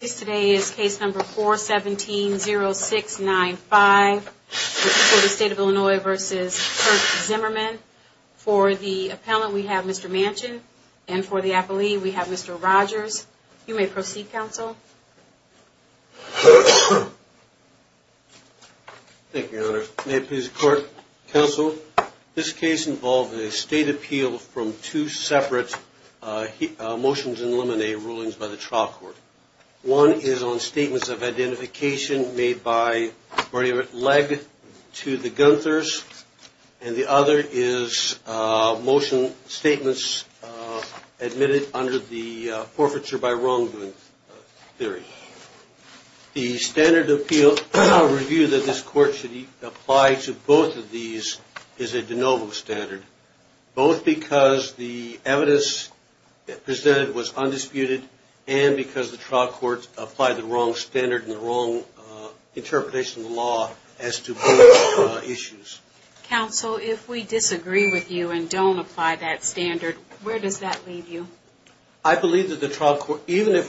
This case today is case number 417-0695 for the State of Illinois v. Kirk Zimmerman. For the appellant, we have Mr. Manchin, and for the appellee, we have Mr. Rogers. You may proceed, counsel. Thank you, Your Honor. May it please the Court, counsel, this case involved a state appeal from two separate motions in limine ruling by the trial court. One is on statements of identification made by Bernie Legge to the Gunthers, and the other is motion statements admitted under the forfeiture by wrongdoing theory. The standard appeal review that this Court should apply to both of these is a de novo standard, both because the evidence presented was undisputed, and because the trial court applied the wrong standard and the wrong interpretation of the law as to both issues. Counsel, if we disagree with you and don't apply that standard, where does that leave you? I believe that the trial court, even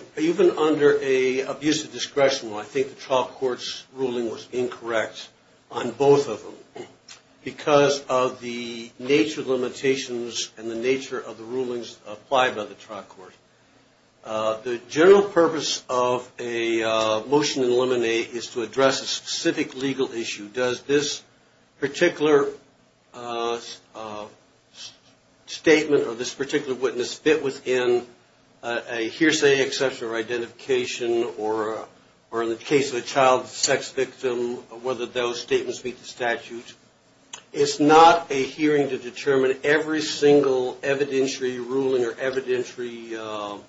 under an abusive discretion, I think the trial court's ruling was incorrect on both of them, because of the nature of limitations and the nature of the rulings applied by the trial court. The general purpose of a motion in limine is to address a specific legal issue. Does this particular statement or this particular witness fit within a hearsay exception or identification, or in the case of a child sex victim, whether those statements meet the statute? It's not a hearing to determine every single evidentiary ruling or evidentiary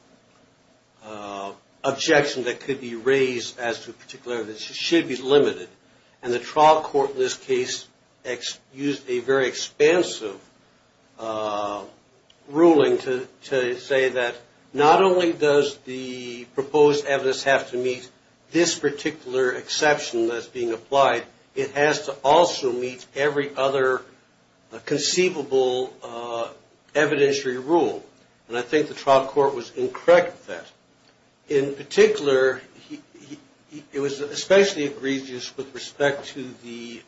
objection that could be raised as to a particular evidence. It should be limited. And the trial court in this case used a very expansive ruling to say that not only does the proposed evidence have to meet this particular exception that's being applied, it has to also meet every other conceivable evidentiary rule. And I think the trial court was incorrect with that. In particular, it was especially egregious with respect to the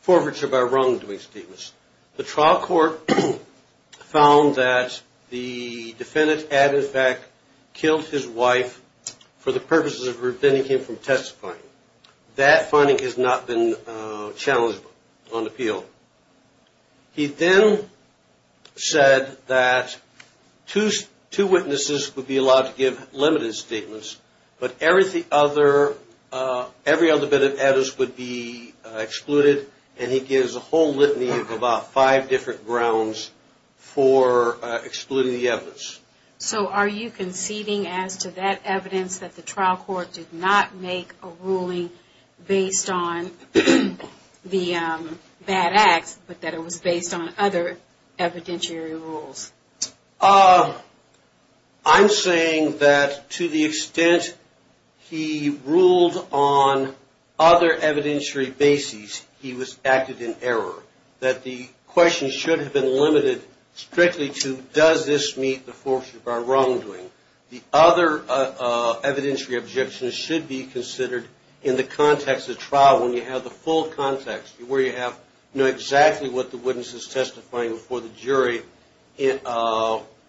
forfeiture by wrongdoing statements. The trial court found that the defendant had in fact killed his wife for the purposes of preventing him from testifying. That finding has not been challenged on appeal. He then said that two witnesses would be allowed to give limited statements, but every other bit of evidence would be excluded. And he gives a whole litany of about five different grounds for excluding the evidence. So are you conceding as to that evidence that the trial court did not make a ruling based on the bad acts, but that it was based on other evidentiary rules? I'm saying that to the extent he ruled on other evidentiary bases, he was acted in error. That the question should have been limited strictly to does this meet the forfeiture by wrongdoing? The other evidentiary objections should be considered in the context of trial when you have the full context, where you know exactly what the witness is testifying before the jury in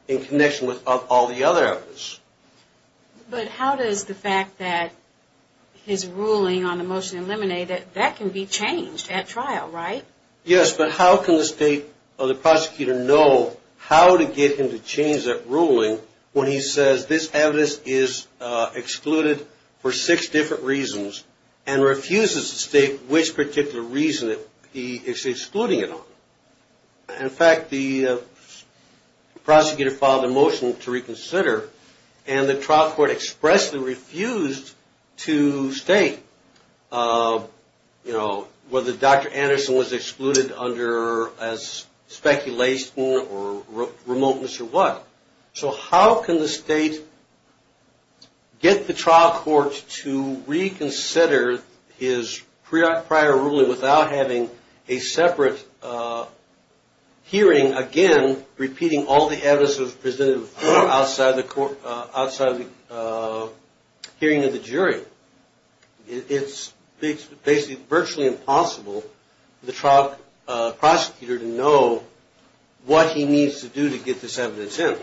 connection with all the other evidence. But how does the fact that his ruling on the motion eliminated, that can be changed at trial, right? Yes, but how can the state or the prosecutor know how to get him to change that ruling when he says this evidence is excluded for six different reasons and refuses to state which particular reason he is excluding it on? In fact, the prosecutor filed a motion to reconsider and the trial court expressly refused to state whether Dr. Anderson was excluded under speculation or remoteness or what. So how can the state get the trial court to reconsider his prior ruling without having a separate hearing, again, repeating all the evidence that was presented outside of the hearing of the jury? It's basically virtually impossible for the trial prosecutor to know what he needs to do to get this evidence in.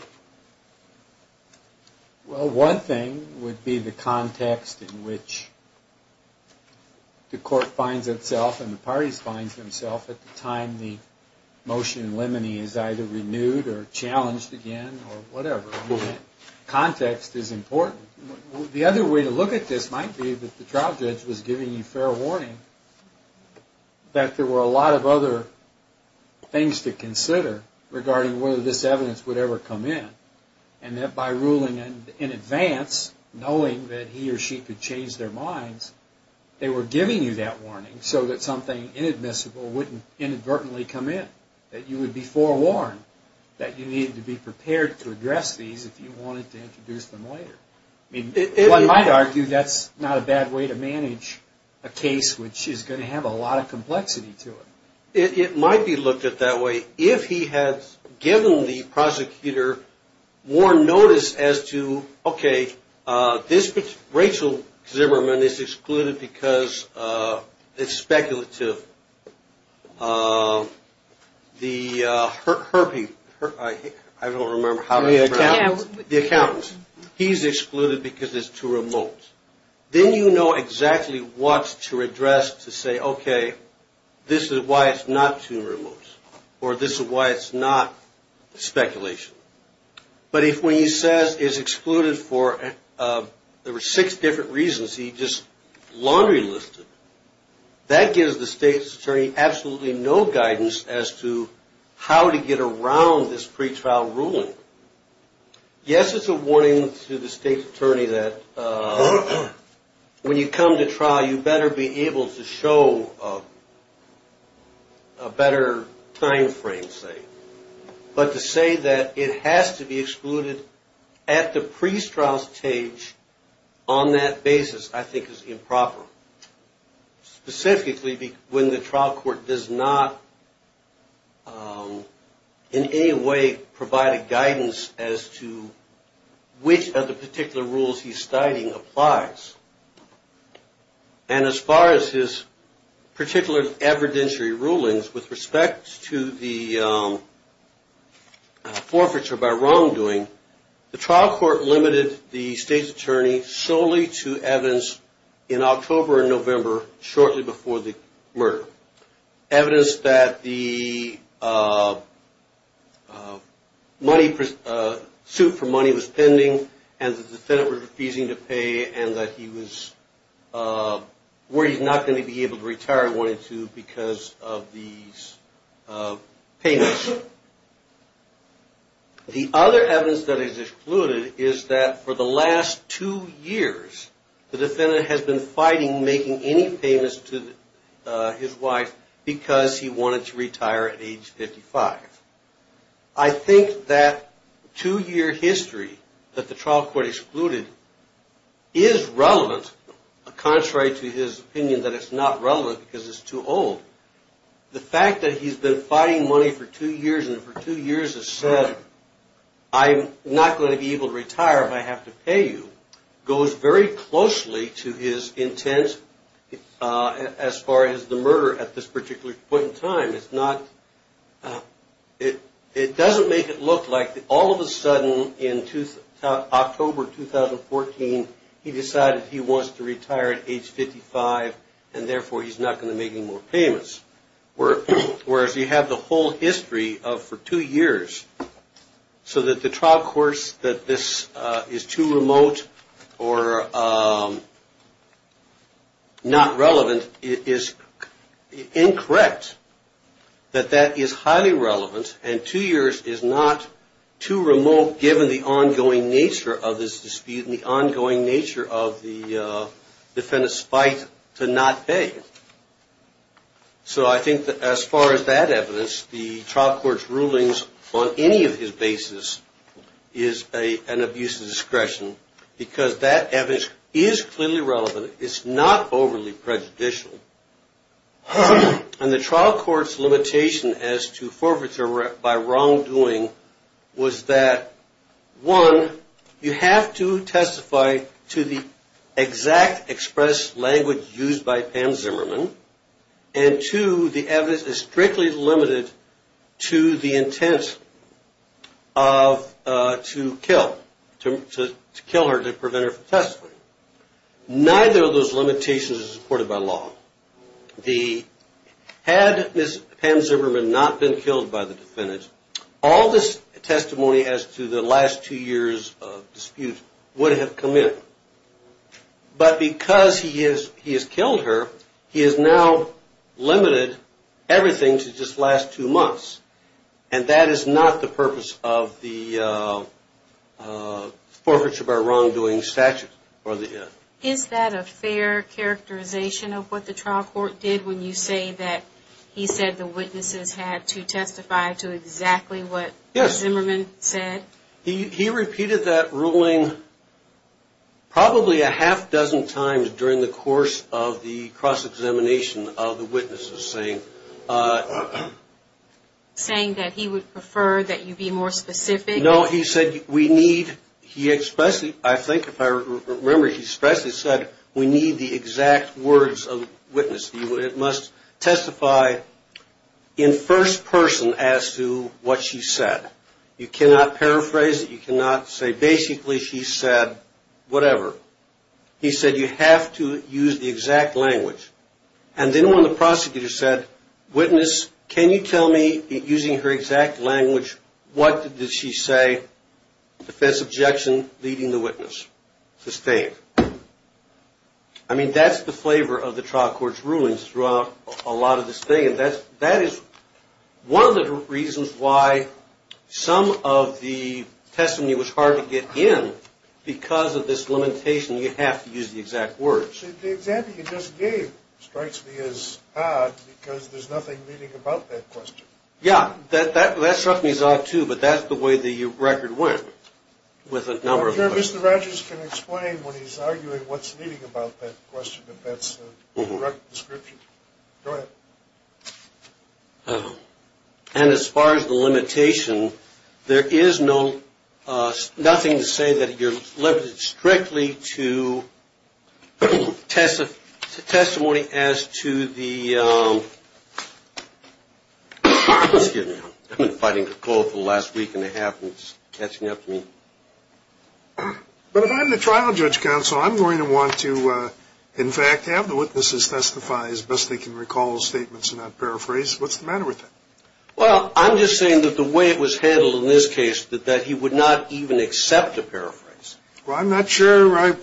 Well, one thing would be the context in which the court finds itself and the parties find themselves at the time the motion in limine is either renewed or challenged again or whatever. Context is important. The other way to look at this might be that the trial judge was giving you fair warning that there were a lot of other things to consider regarding whether this evidence would ever come in and that by ruling in advance, knowing that he or she could change their minds, they were giving you that warning so that something inadmissible wouldn't inadvertently come in, that you would be forewarned that you needed to be prepared to address these if you wanted to introduce them later. One might argue that's not a bad way to manage a case which is going to have a lot of complexity to it. It might be looked at that way. And if he has given the prosecutor more notice as to, okay, this Rachel Zimmerman is excluded because it's speculative. The Herbie, I don't remember how to pronounce it. The accountant. The accountant. He's excluded because it's too remote. Then you know exactly what to address to say, okay, this is why it's not too remote or this is why it's not speculation. But if when he says it's excluded for, there were six different reasons, he just laundry listed, that gives the state's attorney absolutely no guidance as to how to get around this pretrial ruling. Yes, it's a warning to the state's attorney that when you come to trial, you better be able to show a better time frame, say. But to say that it has to be excluded at the pre-trial stage on that basis I think is improper. Specifically when the trial court does not in any way provide a guidance as to which of the particular rules he's citing applies. And as far as his particular evidentiary rulings with respect to the forfeiture by wrongdoing, the trial court limited the state's attorney solely to evidence in October and November shortly before the murder. Evidence that the money, suit for money was pending and the defendant was refusing to pay and that he was worried he's not going to be able to retire wanting to because of these payments. The other evidence that is excluded is that for the last two years, the defendant has been fighting making any payments to his wife because he wanted to retire at age 55. I think that two-year history that the trial court excluded is relevant, contrary to his opinion that it's not relevant because it's too old. The fact that he's been fighting money for two years and for two years has said, I'm not going to be able to retire if I have to pay you, goes very closely to his intent as far as the murder at this particular point in time. It's not, it doesn't make it look like all of a sudden in October 2014, he decided he wants to retire at age 55 and therefore he's not going to make any more payments. Whereas you have the whole history of for two years, so that the trial courts that this is too remote or not relevant, it is incorrect that that is highly relevant and two years is not too remote given the ongoing nature of this dispute and the ongoing nature of the defendant's fight to not pay. So I think that as far as that evidence, the trial court's rulings on any of his basis is an abuse of discretion because that evidence is clearly relevant. It's not overly prejudicial. And the trial court's limitation as to forfeiture by wrongdoing was that, one, you have to testify to the exact express language used by Pam Zimmerman, and two, the evidence is strictly limited to the intent to kill her to prevent her from testifying. Neither of those limitations is supported by law. Had Pam Zimmerman not been killed by the defendant, all this testimony as to the last two years of dispute would have come in. But because he has killed her, he has now limited everything to just last two months. And that is not the purpose of the forfeiture by wrongdoing statute. Is that a fair characterization of what the trial court did when you say that he said the witnesses had to testify to exactly what Zimmerman said? Yes. He repeated that ruling probably a half dozen times during the course of the cross-examination of the witnesses, saying that he would prefer that you be more specific. No, he said we need, he expressly, I think if I remember, he expressly said we need the exact words of witness. It must testify in first person as to what she said. You cannot paraphrase it. You cannot say basically she said whatever. He said you have to use the exact language. And then when the prosecutor said, witness, can you tell me, using her exact language, what did she say, defense objection, leading the witness, sustained. I mean, that's the flavor of the trial court's rulings throughout a lot of this thing. And that is one of the reasons why some of the testimony was hard to get in. Because of this limitation, you have to use the exact words. Actually, the example you just gave strikes me as odd because there's nothing leading about that question. Yeah, that struck me as odd, too, but that's the way the record went with a number of questions. I'm sure Mr. Rogers can explain when he's arguing what's leading about that question if that's the correct description. Go ahead. And as far as the limitation, there is nothing to say that you're limited strictly to testimony as to the ‑‑ excuse me, I've been fighting a cold for the last week and a half and it's catching up to me. But if I'm the trial judge counsel, I'm going to want to, in fact, have the witnesses testify as best they can recall the statements and not paraphrase. What's the matter with that? Well, I'm just saying that the way it was handled in this case, that he would not even accept a paraphrase. Well, I'm not sure I ‑‑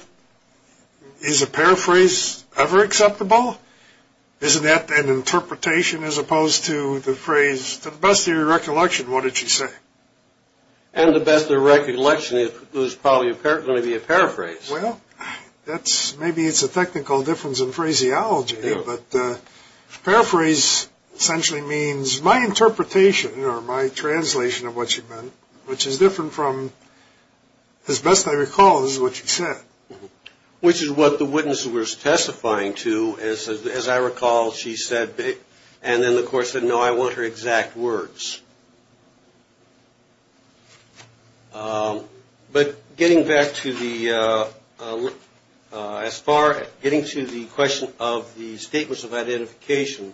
is a paraphrase ever acceptable? Isn't that an interpretation as opposed to the phrase, to the best of your recollection, what did she say? And the best of recollection is probably going to be a paraphrase. Well, maybe it's a technical difference in phraseology, but paraphrase essentially means my interpretation or my translation of what she meant, which is different from, as best I recall, is what she said. Which is what the witnesses were testifying to. As I recall, she said, and then the court said, no, I want her exact words. But getting back to the ‑‑ as far as getting to the question of the statements of identification,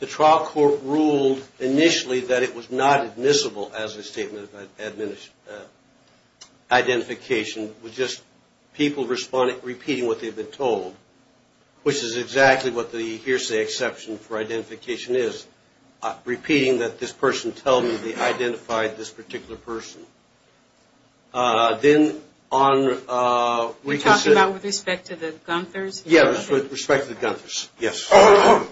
the trial court ruled initially that it was not admissible as a statement of identification, it was just people repeating what they've been told, which is exactly what the hearsay exception for identification is, repeating that this person tells me they identified this particular person. Then on ‑‑ You're talking about with respect to the Gunthers? Yes, with respect to the Gunthers, yes. I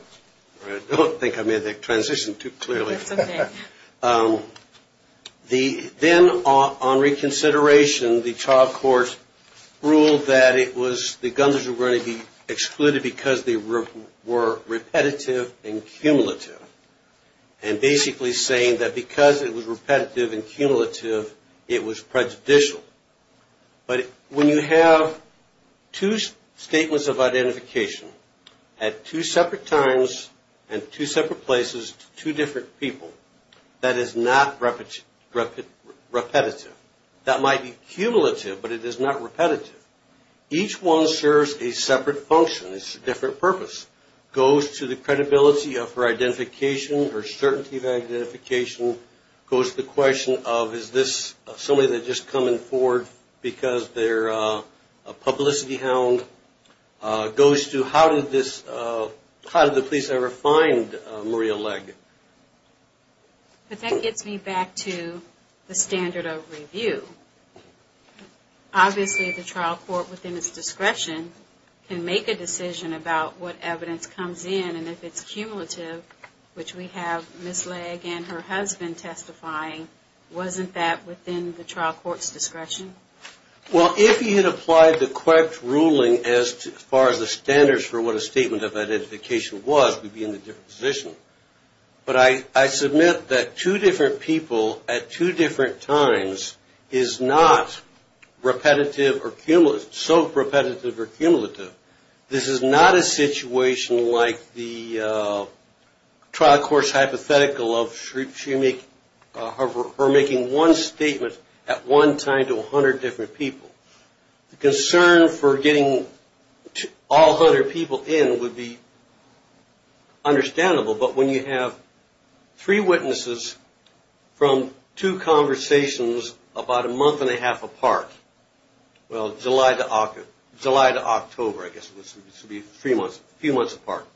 don't think I made that transition too clearly. That's okay. Then on reconsideration, the trial court ruled that it was, the Gunthers were going to be excluded because they were repetitive and cumulative, and basically saying that because it was repetitive and cumulative, it was prejudicial. But when you have two statements of identification at two separate times and two separate places to two different people, that is not repetitive. That might be cumulative, but it is not repetitive. Each one serves a separate function. It's a different purpose. It goes to the credibility of her identification, her certainty of identification, goes to the question of is this somebody that's just coming forward because they're a publicity hound, goes to how did the police ever find Maria Legge? But that gets me back to the standard of review. Obviously the trial court within its discretion can make a decision about what evidence comes in, and if it's cumulative, which we have Ms. Legge and her husband testifying, wasn't that within the trial court's discretion? Well, if you had applied the correct ruling as far as the standards for what a statement of identification was, we'd be in a different position. But I submit that two different people at two different times is not repetitive or cumulative, so repetitive or cumulative. This is not a situation like the trial court's hypothetical of her making one statement at one time to 100 different people. The concern for getting all 100 people in would be understandable, but when you have three witnesses from two conversations about a month and a half apart, well, July to October, I guess it would be a few months apart,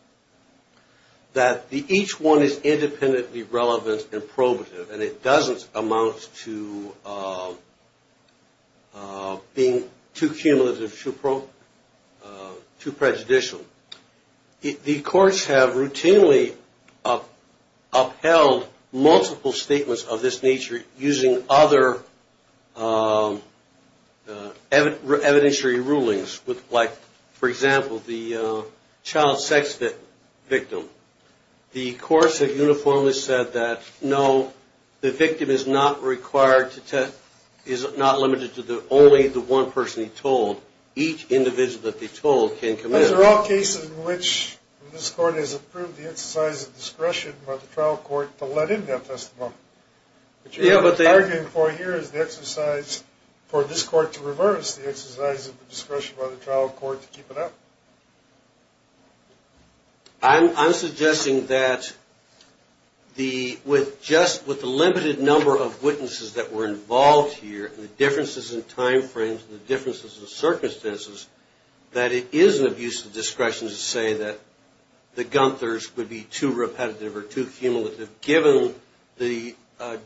that each one is independently relevant and probative, and it doesn't amount to being too cumulative, too prejudicial. The courts have routinely upheld multiple statements of this nature using other evidentiary rulings, like, for example, the child sex victim. The courts have uniformly said that, no, the victim is not limited to only the one person he told. Each individual that they told can come in. Those are all cases in which this court has approved the exercise of discretion by the trial court to let in their testimony. What you're arguing for here is the exercise for this court to reverse the exercise of the discretion by the trial court to keep it up. I'm suggesting that just with the limited number of witnesses that were involved here and the differences in time frames and the differences in circumstances, that it is an abuse of discretion to say that the Gunthers would be too repetitive or too cumulative, given the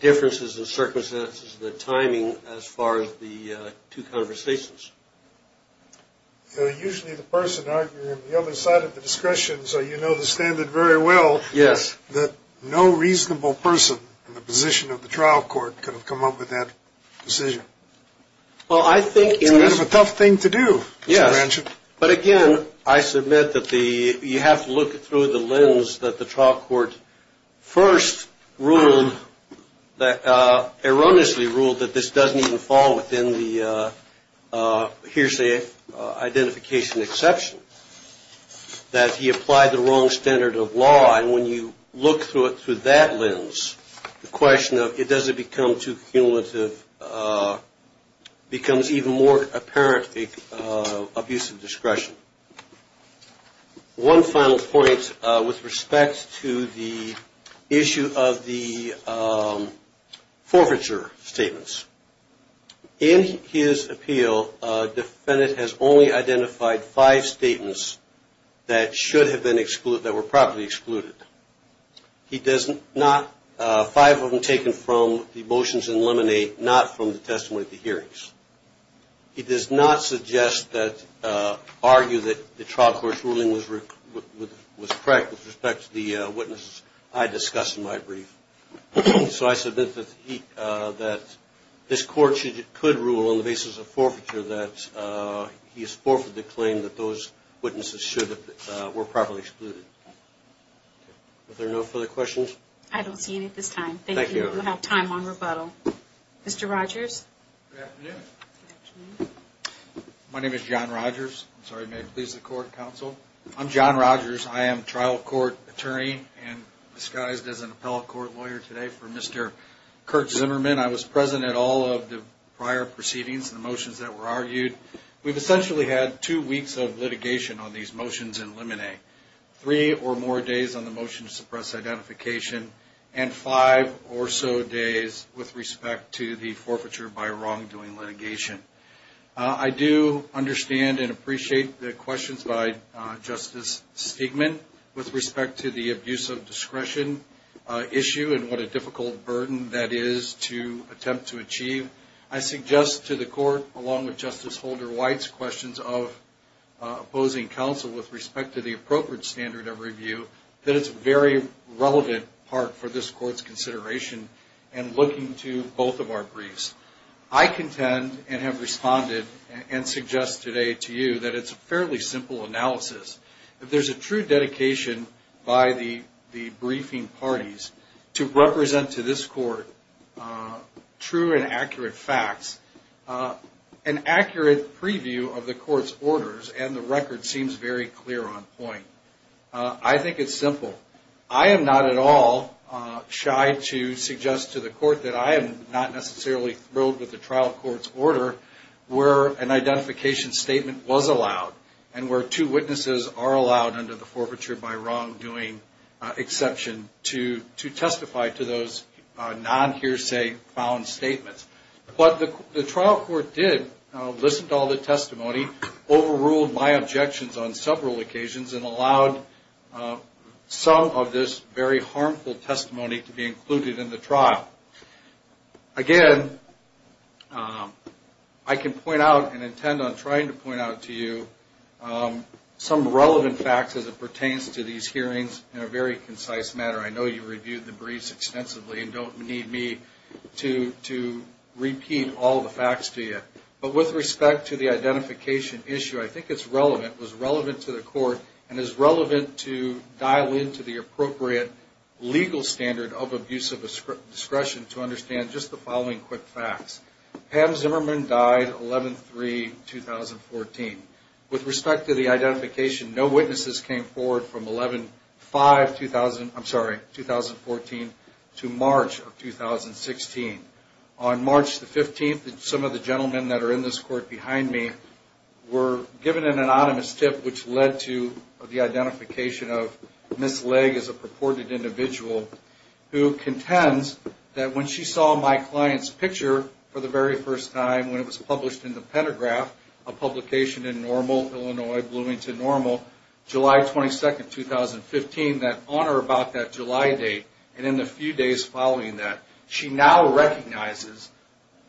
differences in circumstances and the timing as far as the two conversations. Usually the person arguing on the other side of the discretion, so you know the standard very well, that no reasonable person in the position of the trial court could have come up with that decision. It's kind of a tough thing to do, Mr. Branshaw. But again, I submit that you have to look through the lens that the trial court first ruled, erroneously ruled that this doesn't even fall within the hearsay identification exception, that he applied the wrong standard of law. And when you look through it through that lens, the question of does it become too cumulative becomes even more apparent abuse of discretion. One final point with respect to the issue of the forfeiture statements. In his appeal, a defendant has only identified five statements that should have been excluded, that were properly excluded. He does not, five of them taken from the motions in lemonade, not from the testimony at the hearings. He does not suggest that, argue that the trial court's ruling was correct with respect to the witnesses I discussed in my brief. So I submit that this court could rule on the basis of forfeiture that he has forfeited the claim that those Are there no further questions? I don't see any at this time. Thank you. We'll have time on rebuttal. Mr. Rogers? Good afternoon. My name is John Rogers. I'm sorry, may it please the court counsel. I'm John Rogers. I am trial court attorney and disguised as an appellate court lawyer today for Mr. Kurt Zimmerman. I was present at all of the prior proceedings and the motions that were argued. We've essentially had two weeks of litigation on these motions in lemonade. Three or more days on the motion to suppress identification and five or so days with respect to the forfeiture by wrongdoing litigation. I do understand and appreciate the questions by Justice Stigman with respect to the abuse of discretion issue and what a difficult burden that is to attempt to achieve. I suggest to the court along with Justice Holder-White's questions of opposing counsel with respect to the appropriate standard of review that it's a very relevant part for this court's consideration and looking to both of our briefs. I contend and have responded and suggest today to you that it's a fairly simple analysis. If there's a true dedication by the briefing parties to represent to this court true and accurate facts, an accurate preview of the court's orders and the record seems very clear on point. I think it's simple. I am not at all shy to suggest to the court that I am not necessarily thrilled with the trial court's order where an under the forfeiture by wrongdoing exception to testify to those non-hearsay found statements. But the trial court did listen to all the testimony, overruled my objections on several occasions, and allowed some of this very harmful testimony to be included in the trial. Again, I can point out and intend on trying to point out to you some relevant facts as it pertains to these hearings in a very concise manner. I know you reviewed the briefs extensively and don't need me to repeat all the facts to you. But with respect to the identification issue, I think it's relevant. It was relevant to the court and is relevant to dial into the appropriate legal standard of abusive discretion to understand just the following quick facts. Pam Zimmerman died 11-3-2014. With respect to the identification, no witnesses came forward from 11-5-2014 to March of 2016. On March 15th, some of the gentlemen that are in this court behind me were given an anonymous tip which led to the identification of Ms. Legg as a purported individual who contends that when she saw my client's picture for the very first time when it was published in the Pentagraph, a publication in Normal, Illinois, Bloomington Normal, July 22nd, 2015, that honor about that July date and in the few days following that, she now recognizes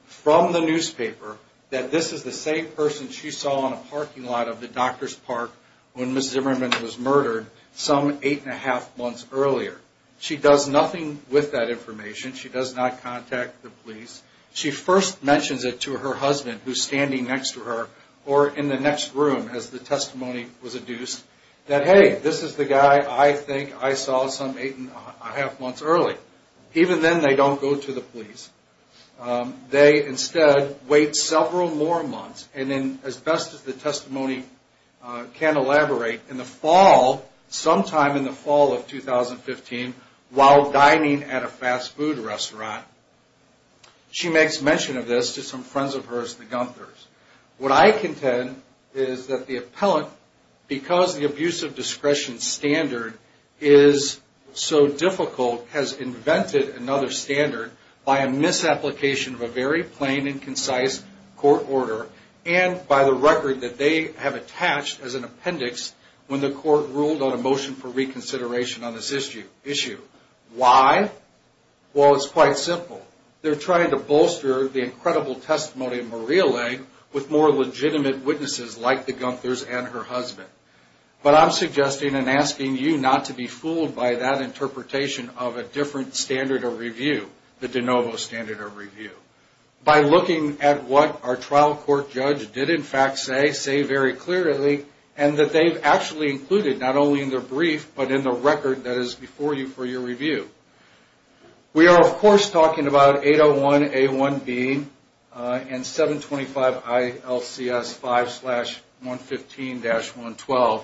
from the newspaper that this is the same person she saw in a parking lot of the doctor's park when Ms. Zimmerman was murdered some 8-1-2 months earlier. She does nothing with that information. She does not contact the police. She first mentions it to her husband who's standing next to her or in the next room as the testimony was adduced that, hey, this is the guy I think I saw some 8-1-2 months early. Even then, they don't go to the police. They instead wait several more months and then, as best as the testimony can elaborate, in the fall, sometime in the fall of 2015, while dining at a fast food restaurant, she makes mention of this to some friends of hers, the Gunthers. What I contend is that the appellant, because the abuse of discretion standard is so difficult, has invented another standard by a misapplication of a very plain and concise court order and by the record that they have attached as an appendix when the court ruled on a motion for reconsideration on this issue. Why? Well, it's quite simple. They're trying to bolster the incredible testimony of Maria Lang with more legitimate witnesses like the Gunthers and her husband. But I'm suggesting and asking you not to be fooled by that interpretation of a different standard of review, the de novo standard of review. By looking at what our trial court judge did in fact say, say very clearly, and that they've actually included not only in their brief, but in the record that is before you for your review. We are, of course, talking about 801A1B and 725ILCS5-115-112.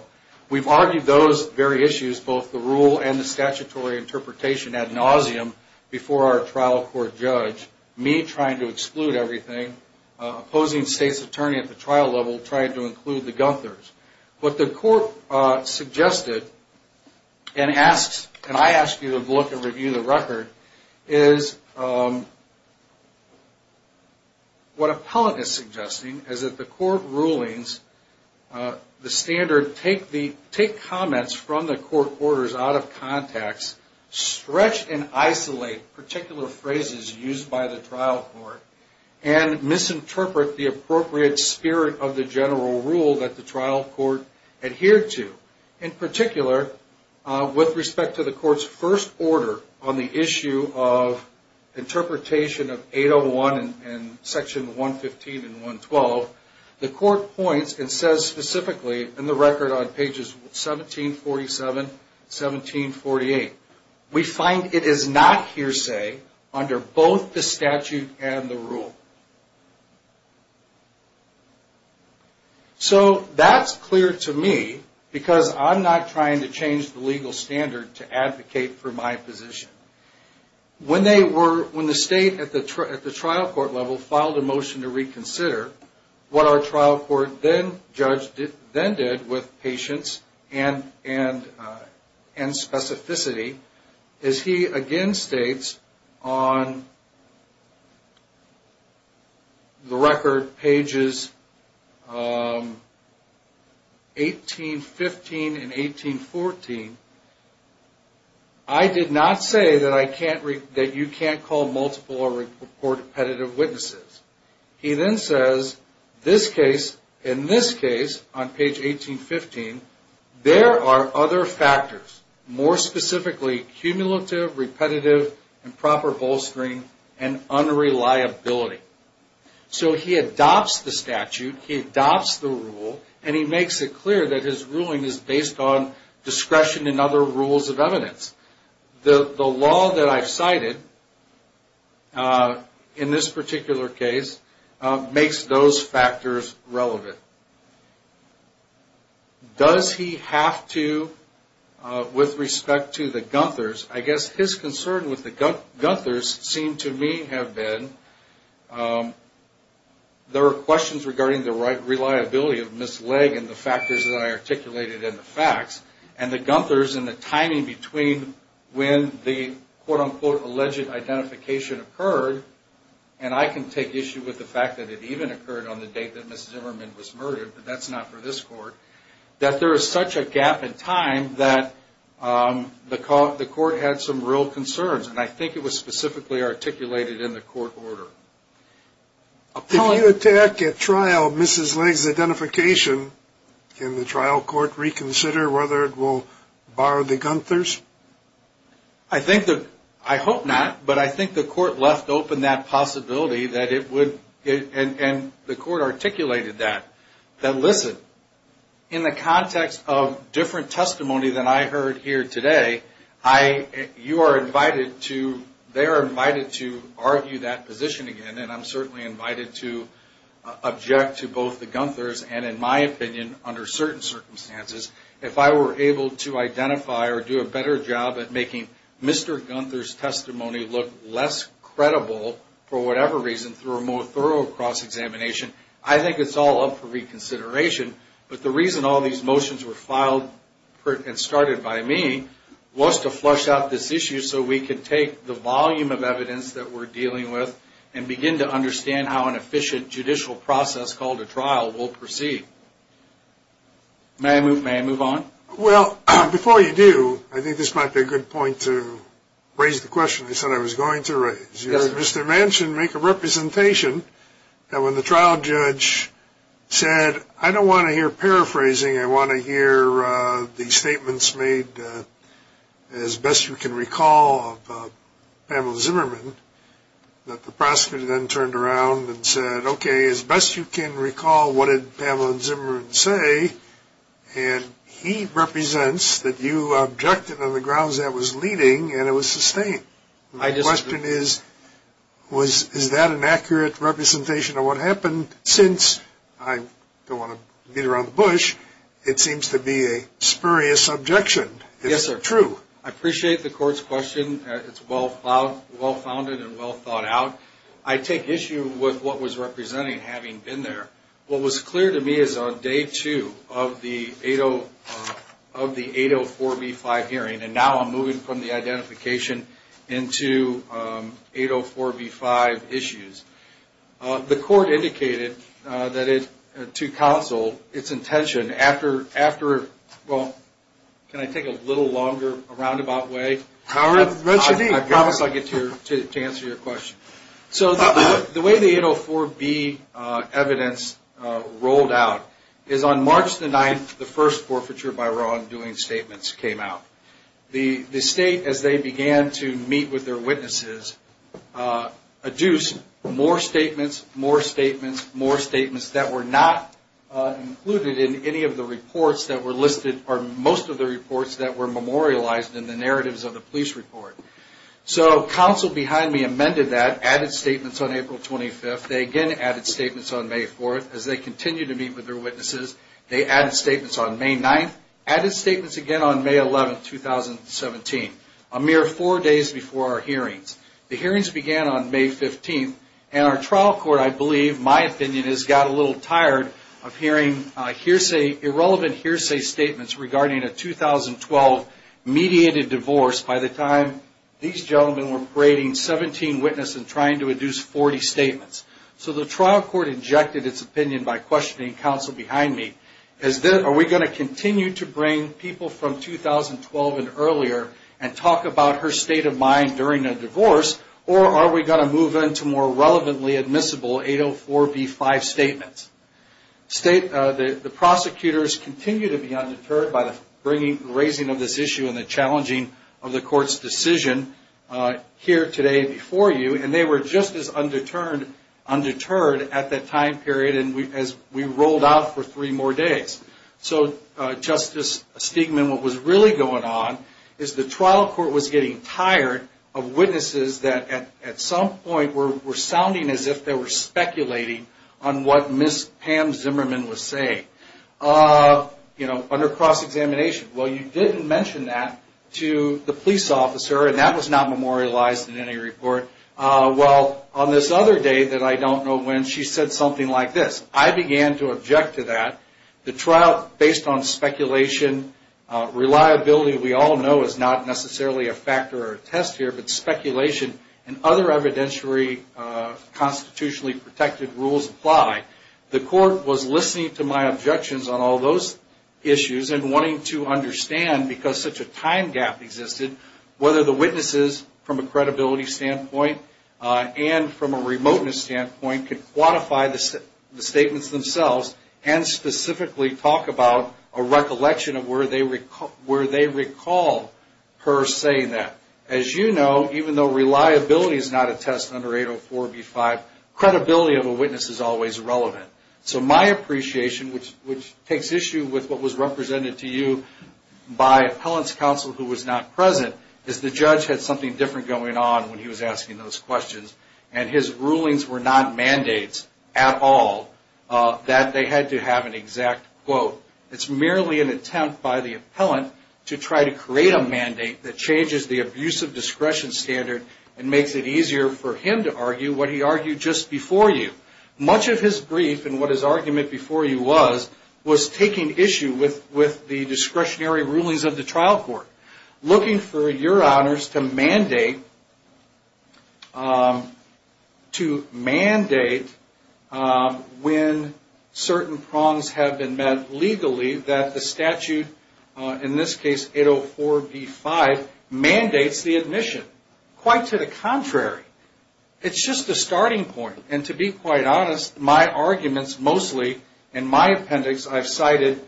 We've argued those very issues, both the rule and the statutory interpretation ad nauseum before our trial court judge, me trying to exclude everything, opposing state's attorney at the trial level trying to include the Gunthers. What the court suggested and I ask you to look and review the record is what appellant is suggesting is that the court rulings, the standard take comments from the court orders out of context, stretch and isolate particular phrases used by the trial court, and misinterpret the appropriate spirit of the general rule that the trial court adhered to. In particular, with respect to the court's first order on the issue of interpretation of 801 and section 115 and 112, the court points and says specifically in the record on pages 1747 and 1748, we find it is not hearsay under both the statute and the rule. So that's clear to me because I'm not trying to change the legal standard to advocate for my position. When the state at the trial court level filed a motion to reconsider, what our trial court judge then did with patience and specificity, is he again states on the record pages 1815 and 1814, I did not say that you can't call multiple or repetitive witnesses. He then says in this case on page 1815, there are other factors, more specifically cumulative, repetitive, improper bolstering, and unreliability. So he adopts the statute, he adopts the rule, and he makes it clear that his ruling is based on discretion and impartiality. He does not use any other rules of evidence. The law that I've cited in this particular case makes those factors relevant. Does he have to, with respect to the Gunthers, I guess his concern with the Gunthers seemed to me have been, there are questions regarding the reliability of Ms. Legge and the factors that I articulated in the facts, and the timing between when the quote-unquote alleged identification occurred, and I can take issue with the fact that it even occurred on the date that Ms. Zimmerman was murdered, but that's not for this court, that there is such a gap in time that the court had some real concerns, and I think it was specifically articulated in the court order. If you attack at trial Ms. Legge's identification, can the trial court reconsider whether it will bar the Gunthers? I think the, I hope not, but I think the court left open that possibility that it would, and the court articulated that, that listen, in the context of different testimony than I heard here today, you are invited to, they are invited to argue that position again, and I'm certainly invited to object to both the Gunthers, and in my opinion, under certain circumstances, if I were able to identify or do a better job at making Mr. Gunther's testimony look less credible, for whatever reason, through a more thorough cross-examination, I think it's all up for reconsideration, but the reason all these motions were filed and started by me was to flush out this issue so we could take the volume of evidence that we're dealing with, and begin to understand how an efficient judicial process called a trial will proceed. May I move on? Well, before you do, I think this might be a good point to raise the question you said I was going to raise. You heard Mr. Manchin make a representation that when the trial judge said, I don't want to hear paraphrasing, I want to hear the statements made as best you can recall of Pamela Zimmerman, that the prosecutor then turned around and said, okay, as best you can recall, what did Pamela Zimmerman say, and he represents that you objected on the grounds that it was leading and it was sustained. My question is, is that an accurate representation of what happened? Since I don't want to beat around the bush, it seems to be a spurious objection. Is it true? Yes, sir. I appreciate the court's question. It's well-founded and well-thought out. I take issue with what was represented having been there. What was clear to me is on day two of the 804B5 hearing, and now I'm moving from the identification into 804B5 issues, the court indicated to counsel its intention after, well, can I take a little longer, a roundabout way? I promise I'll get to answer your question. The way that the statements rolled out is on March the 9th, the first forfeiture by wrongdoing statements came out. The state, as they began to meet with their witnesses, adduced more statements, more statements, more statements, that were not included in any of the reports that were listed, or most of the reports that were memorialized in the narratives of the police report. So, counsel behind me amended that, added statements on April 25th, they again added statements on May 4th, as they continued to meet with their witnesses, they added statements on May 9th, added statements again on May 11th, 2017, a mere four days before our hearings. The hearings began on May 15th, and our trial court, I believe, my opinion is, got a little tired of hearing irrelevant hearsay statements regarding a 2012 mediated divorce by the time the hearing was over. These gentlemen were parading 17 witnesses and trying to induce 40 statements. So, the trial court injected its opinion by questioning counsel behind me, as then, are we going to continue to bring people from 2012 and earlier, and talk about her state of mind during a divorce, or are we going to move into more relevantly admissible 804B5 statements? The prosecutors continue to be undeterred by the raising of this issue and the challenging of the court's decision. Here today, before you, and they were just as undeterred at that time period, as we rolled out for three more days. So, Justice Stigman, what was really going on, is the trial court was getting tired of witnesses that, at some point, were sounding as if they were speculating on what Ms. Pam Zimmerman was saying, you know, under cross-examination. Well, you didn't mention that to the police officer, and that was not memorialized in any report. Well, on this other day that I don't know when, she said something like this. I began to object to that. The trial, based on speculation, reliability we all know is not necessarily a factor or a test here, but speculation and other evidentiary constitutionally protected rules apply. The court was listening to my objections on all those issues and wanting to understand, because such a time gap existed, whether the witnesses, from a credibility standpoint and from a remoteness standpoint, could quantify the statements themselves and specifically talk about a recollection of where they recall her saying that. As you know, even though reliability is not a test under 804B5, credibility of a witness is always relevant. So my appreciation, which takes issue with what was represented to you by appellant's counsel who was not present, is the judge had something different going on when he was asking those questions, and his rulings were not mandates at all, that they had to have an exact quote. It's merely an attempt by the appellant to try to create a mandate that changes the abuse of discretion standard and makes it easier for him to argue what he argued just before you. Much of his brief and what his argument before you was, was taking issue with the discretionary rulings of the trial court, looking for your honors to mandate when certain prongs have been met legally that the statute, in this case 804B5, mandates the admission. Quite to the contrary, it's just a starting point. And to be quite honest, my arguments mostly, in my appendix, I've cited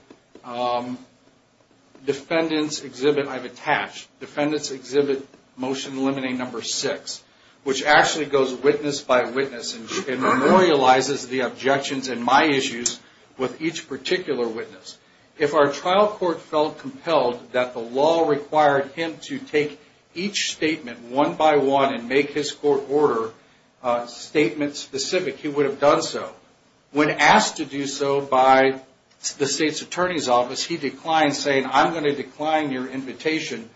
defendants exhibit I've attached, defendants exhibit motion limiting number six, which actually goes witness by witness and memorializes the objections and my issues with each particular witness. If our trial court felt compelled that the law required him to take each statement one by one and make his court order statement specific, he would have done so. When asked to do so by the state's attorney's office, he declined saying, I'm going to decline your invitation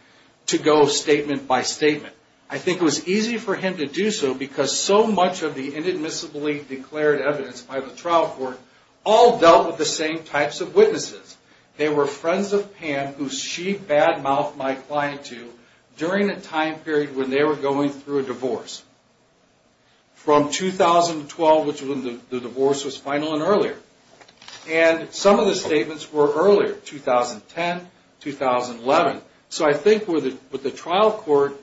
to go statement by statement. I think it was easy for him to do so because so much of the inadmissibly declared evidence by the trial court all dealt with the same types of witnesses. They were friends of Pam, who she bad-mouthed my client to during a time period when they were going through a divorce. From 2012, which was when the divorce was final and earlier. And some of the statements were earlier, 2010, 2011. So I think with the trial court,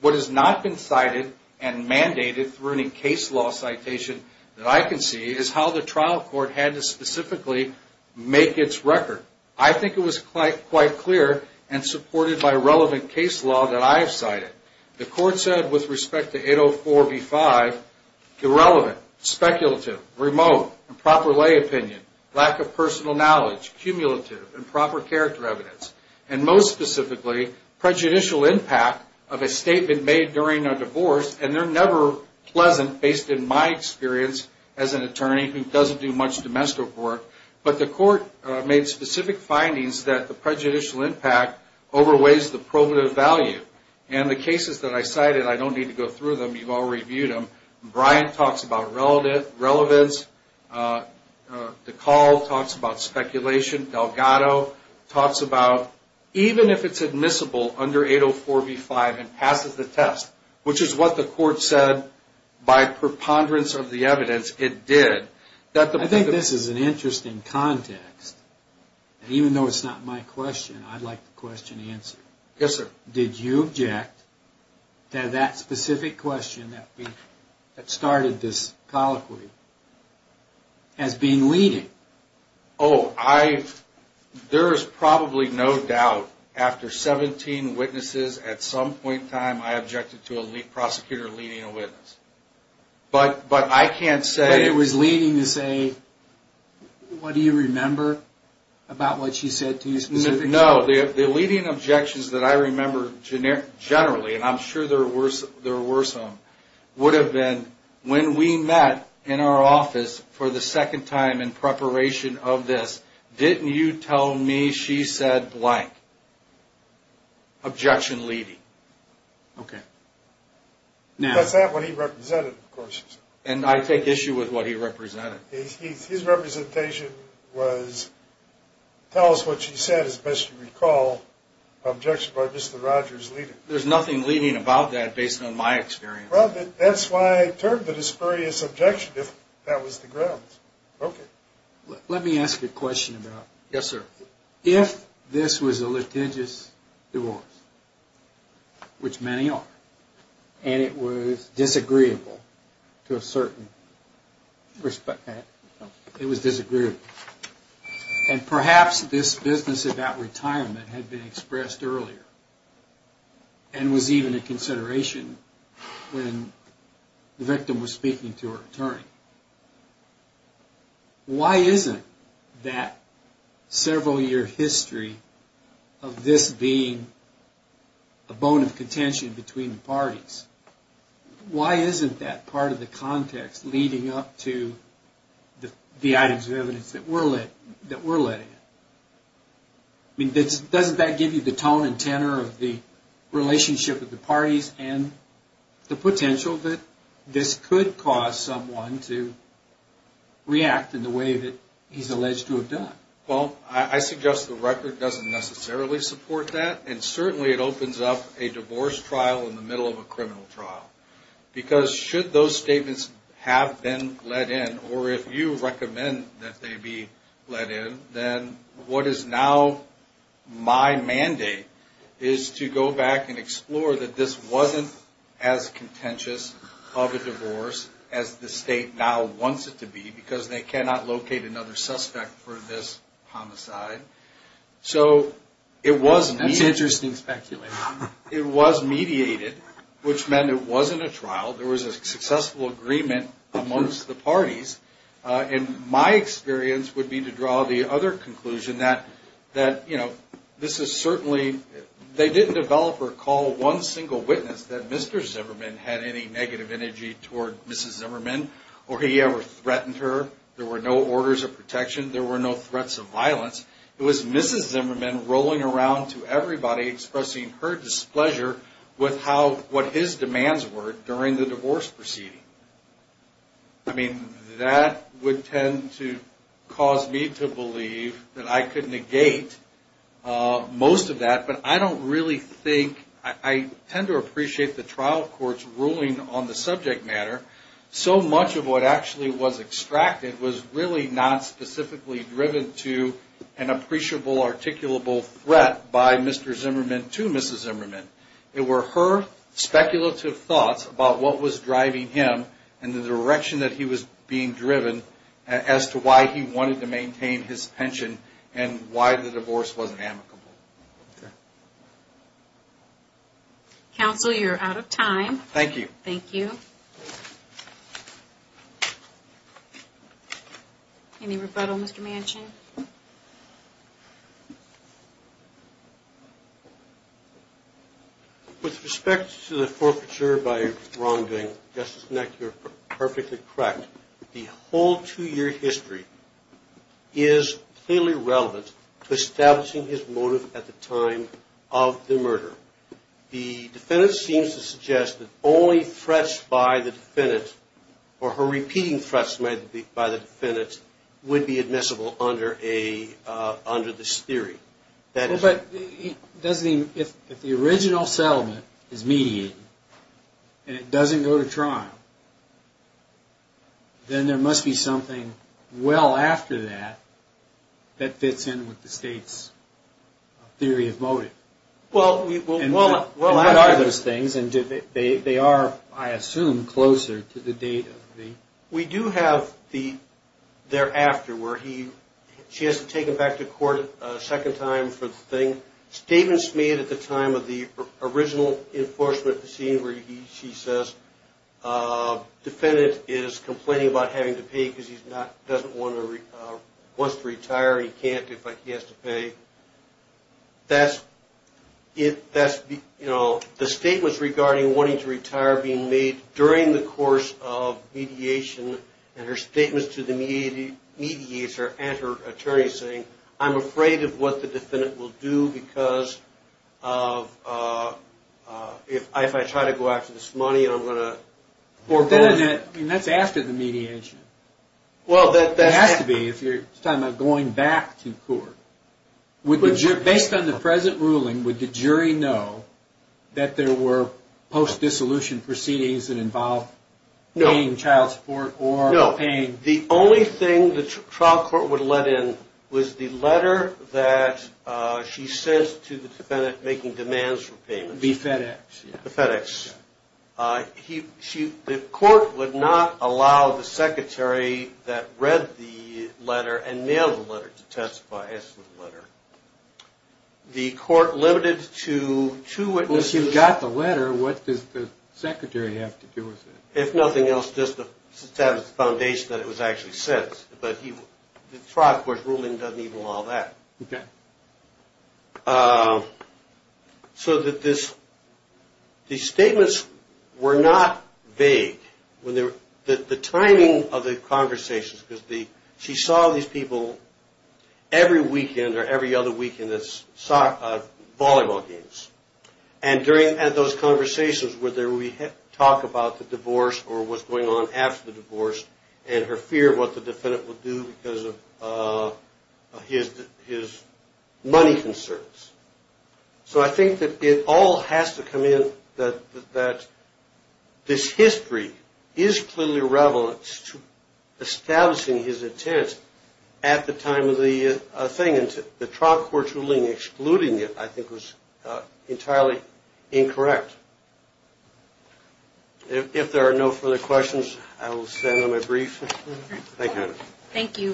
what has not been cited and mandated through any case law citation that I can see, is how the trial court had to specifically make his case. I think it was quite clear and supported by relevant case law that I have cited. The court said with respect to 804B5, irrelevant, speculative, remote, improper lay opinion, lack of personal knowledge, cumulative, improper character evidence. And most specifically, prejudicial impact of a statement made during a divorce. And they're never pleasant based in my experience as an attorney who doesn't do much domestic work. But the court made specific findings that the prejudicial impact overweighs the probative value. And the cases that I cited, I don't need to go through them, you've all reviewed them. Brian talks about relevance, DeCaul talks about speculation, Delgado talks about even if it's admissible under 804B5 and passes the test, which is what the court said by preponderance of the evidence, it did. I think this is an interesting context. And even though it's not my question, I'd like the question answered. Did you object to that specific question that started this colloquy as being leading? There is probably no doubt after 17 witnesses at some point in time, I objected to a prosecutor leading a witness. But I can't say... But it was leading to say, what do you remember about what she said to you specifically? No, the leading objections that I remember generally, and I'm sure there were some, would have been, when we met in our office for the second time in preparation of this, didn't you tell me she said blank? Objection leading. Okay. That's what he represented, of course. And I take issue with what he represented. His representation was, tell us what she said, as best you recall, objection by Mr. Rogers leading. There's nothing leading about that based on my experience. Well, that's why I termed it a spurious objection, if that was the grounds. Let me ask you a question about... Yes, sir. If this was a litigious divorce, which many are, and it was disagreeable to a certain... It was disagreeable. And perhaps this business about retirement had been expressed earlier, and was even a consideration when the victim was speaking to her attorney. Why isn't that several-year history of this being a bone of contention between the parties, why isn't that part of the context leading up to the items of evidence that we're discussing? I mean, doesn't that give you the tone and tenor of the relationship of the parties, and the potential that this could cause someone to react in the way that he's alleged to have done? Well, I suggest the record doesn't necessarily support that. And certainly it opens up a divorce trial in the middle of a criminal trial. Because should those statements have been let in, or if you recommend that they be let in, then what is now my mandate is to go back and explore that this wasn't as contentious of a divorce as the state now wants it to be, because they cannot locate another suspect for this homicide. So it was... It wasn't a trial, there was a successful agreement amongst the parties. And my experience would be to draw the other conclusion that, you know, this is certainly... They didn't develop or call one single witness that Mr. Zimmerman had any negative energy toward Mrs. Zimmerman, or he ever threatened her. There were no orders of protection, there were no threats of violence. It was Mrs. Zimmerman rolling around to everybody expressing her displeasure with how... What his demands were during the divorce proceeding. I mean, that would tend to cause me to believe that I could negate most of that, but I don't really think... I tend to appreciate the trial court's ruling on the subject matter. So much of what actually was extracted was really not specifically driven to an appreciable, articulable threat by Mr. Zimmerman to Mrs. Zimmerman. It were her speculative thoughts about what was driving him and the direction that he was being driven as to why he wanted to maintain his pension and why the divorce wasn't amicable. Okay. Counsel, you're out of time. Thank you. Any rebuttal, Mr. Manchin? With respect to the forfeiture by Ron Ding, Justice Neck, you're perfectly correct. The whole two-year history is clearly relevant to establishing his motive at the time of the murder. The defendant seems to suggest that only threats by the defendant, or her repeating threats by the defendant, would be admissible under this theory. But if the original settlement is mediated and it doesn't go to trial... then there must be something well after that that fits in with the State's theory of motive. What are those things, and they are, I assume, closer to the date of the... We do have the thereafter, where she has to take him back to court a second time for the thing. Statements made at the time of the original enforcement, the scene where she says, defendant is complaining about having to pay because he doesn't want to... wants to retire, he can't if he has to pay. The statements regarding wanting to retire being made during the course of mediation, and her statements to the mediator and her attorney saying, I'm afraid of what the defendant will do because if I try to go after this money, then I'm going to... That's after the mediation. It has to be if you're talking about going back to court. Based on the present ruling, would the jury know that there were post-dissolution proceedings that involved paying child support or paying... No. The only thing the trial court would let in was the letter that she sent to the defendant making demands for payments. The court would not allow the secretary that read the letter and mailed the letter to testify as to the letter. If you got the letter, what does the secretary have to do with it? If nothing else, just to establish the foundation that it was actually sent. The trial court's ruling doesn't even allow that. The statements were not vague. The timing of the conversations, because she saw these people every weekend or every other weekend at volleyball games. During those conversations, whether we talk about the divorce or what's going on after the divorce and her fear of what the defendant would do because of his money concerns. I think that it all has to come in that this history is clearly relevant to establishing his intent at the time of the thing. The trial court's ruling excluding it, I think, was entirely incorrect. If there are no further questions, I will stand on my brief. Thank you.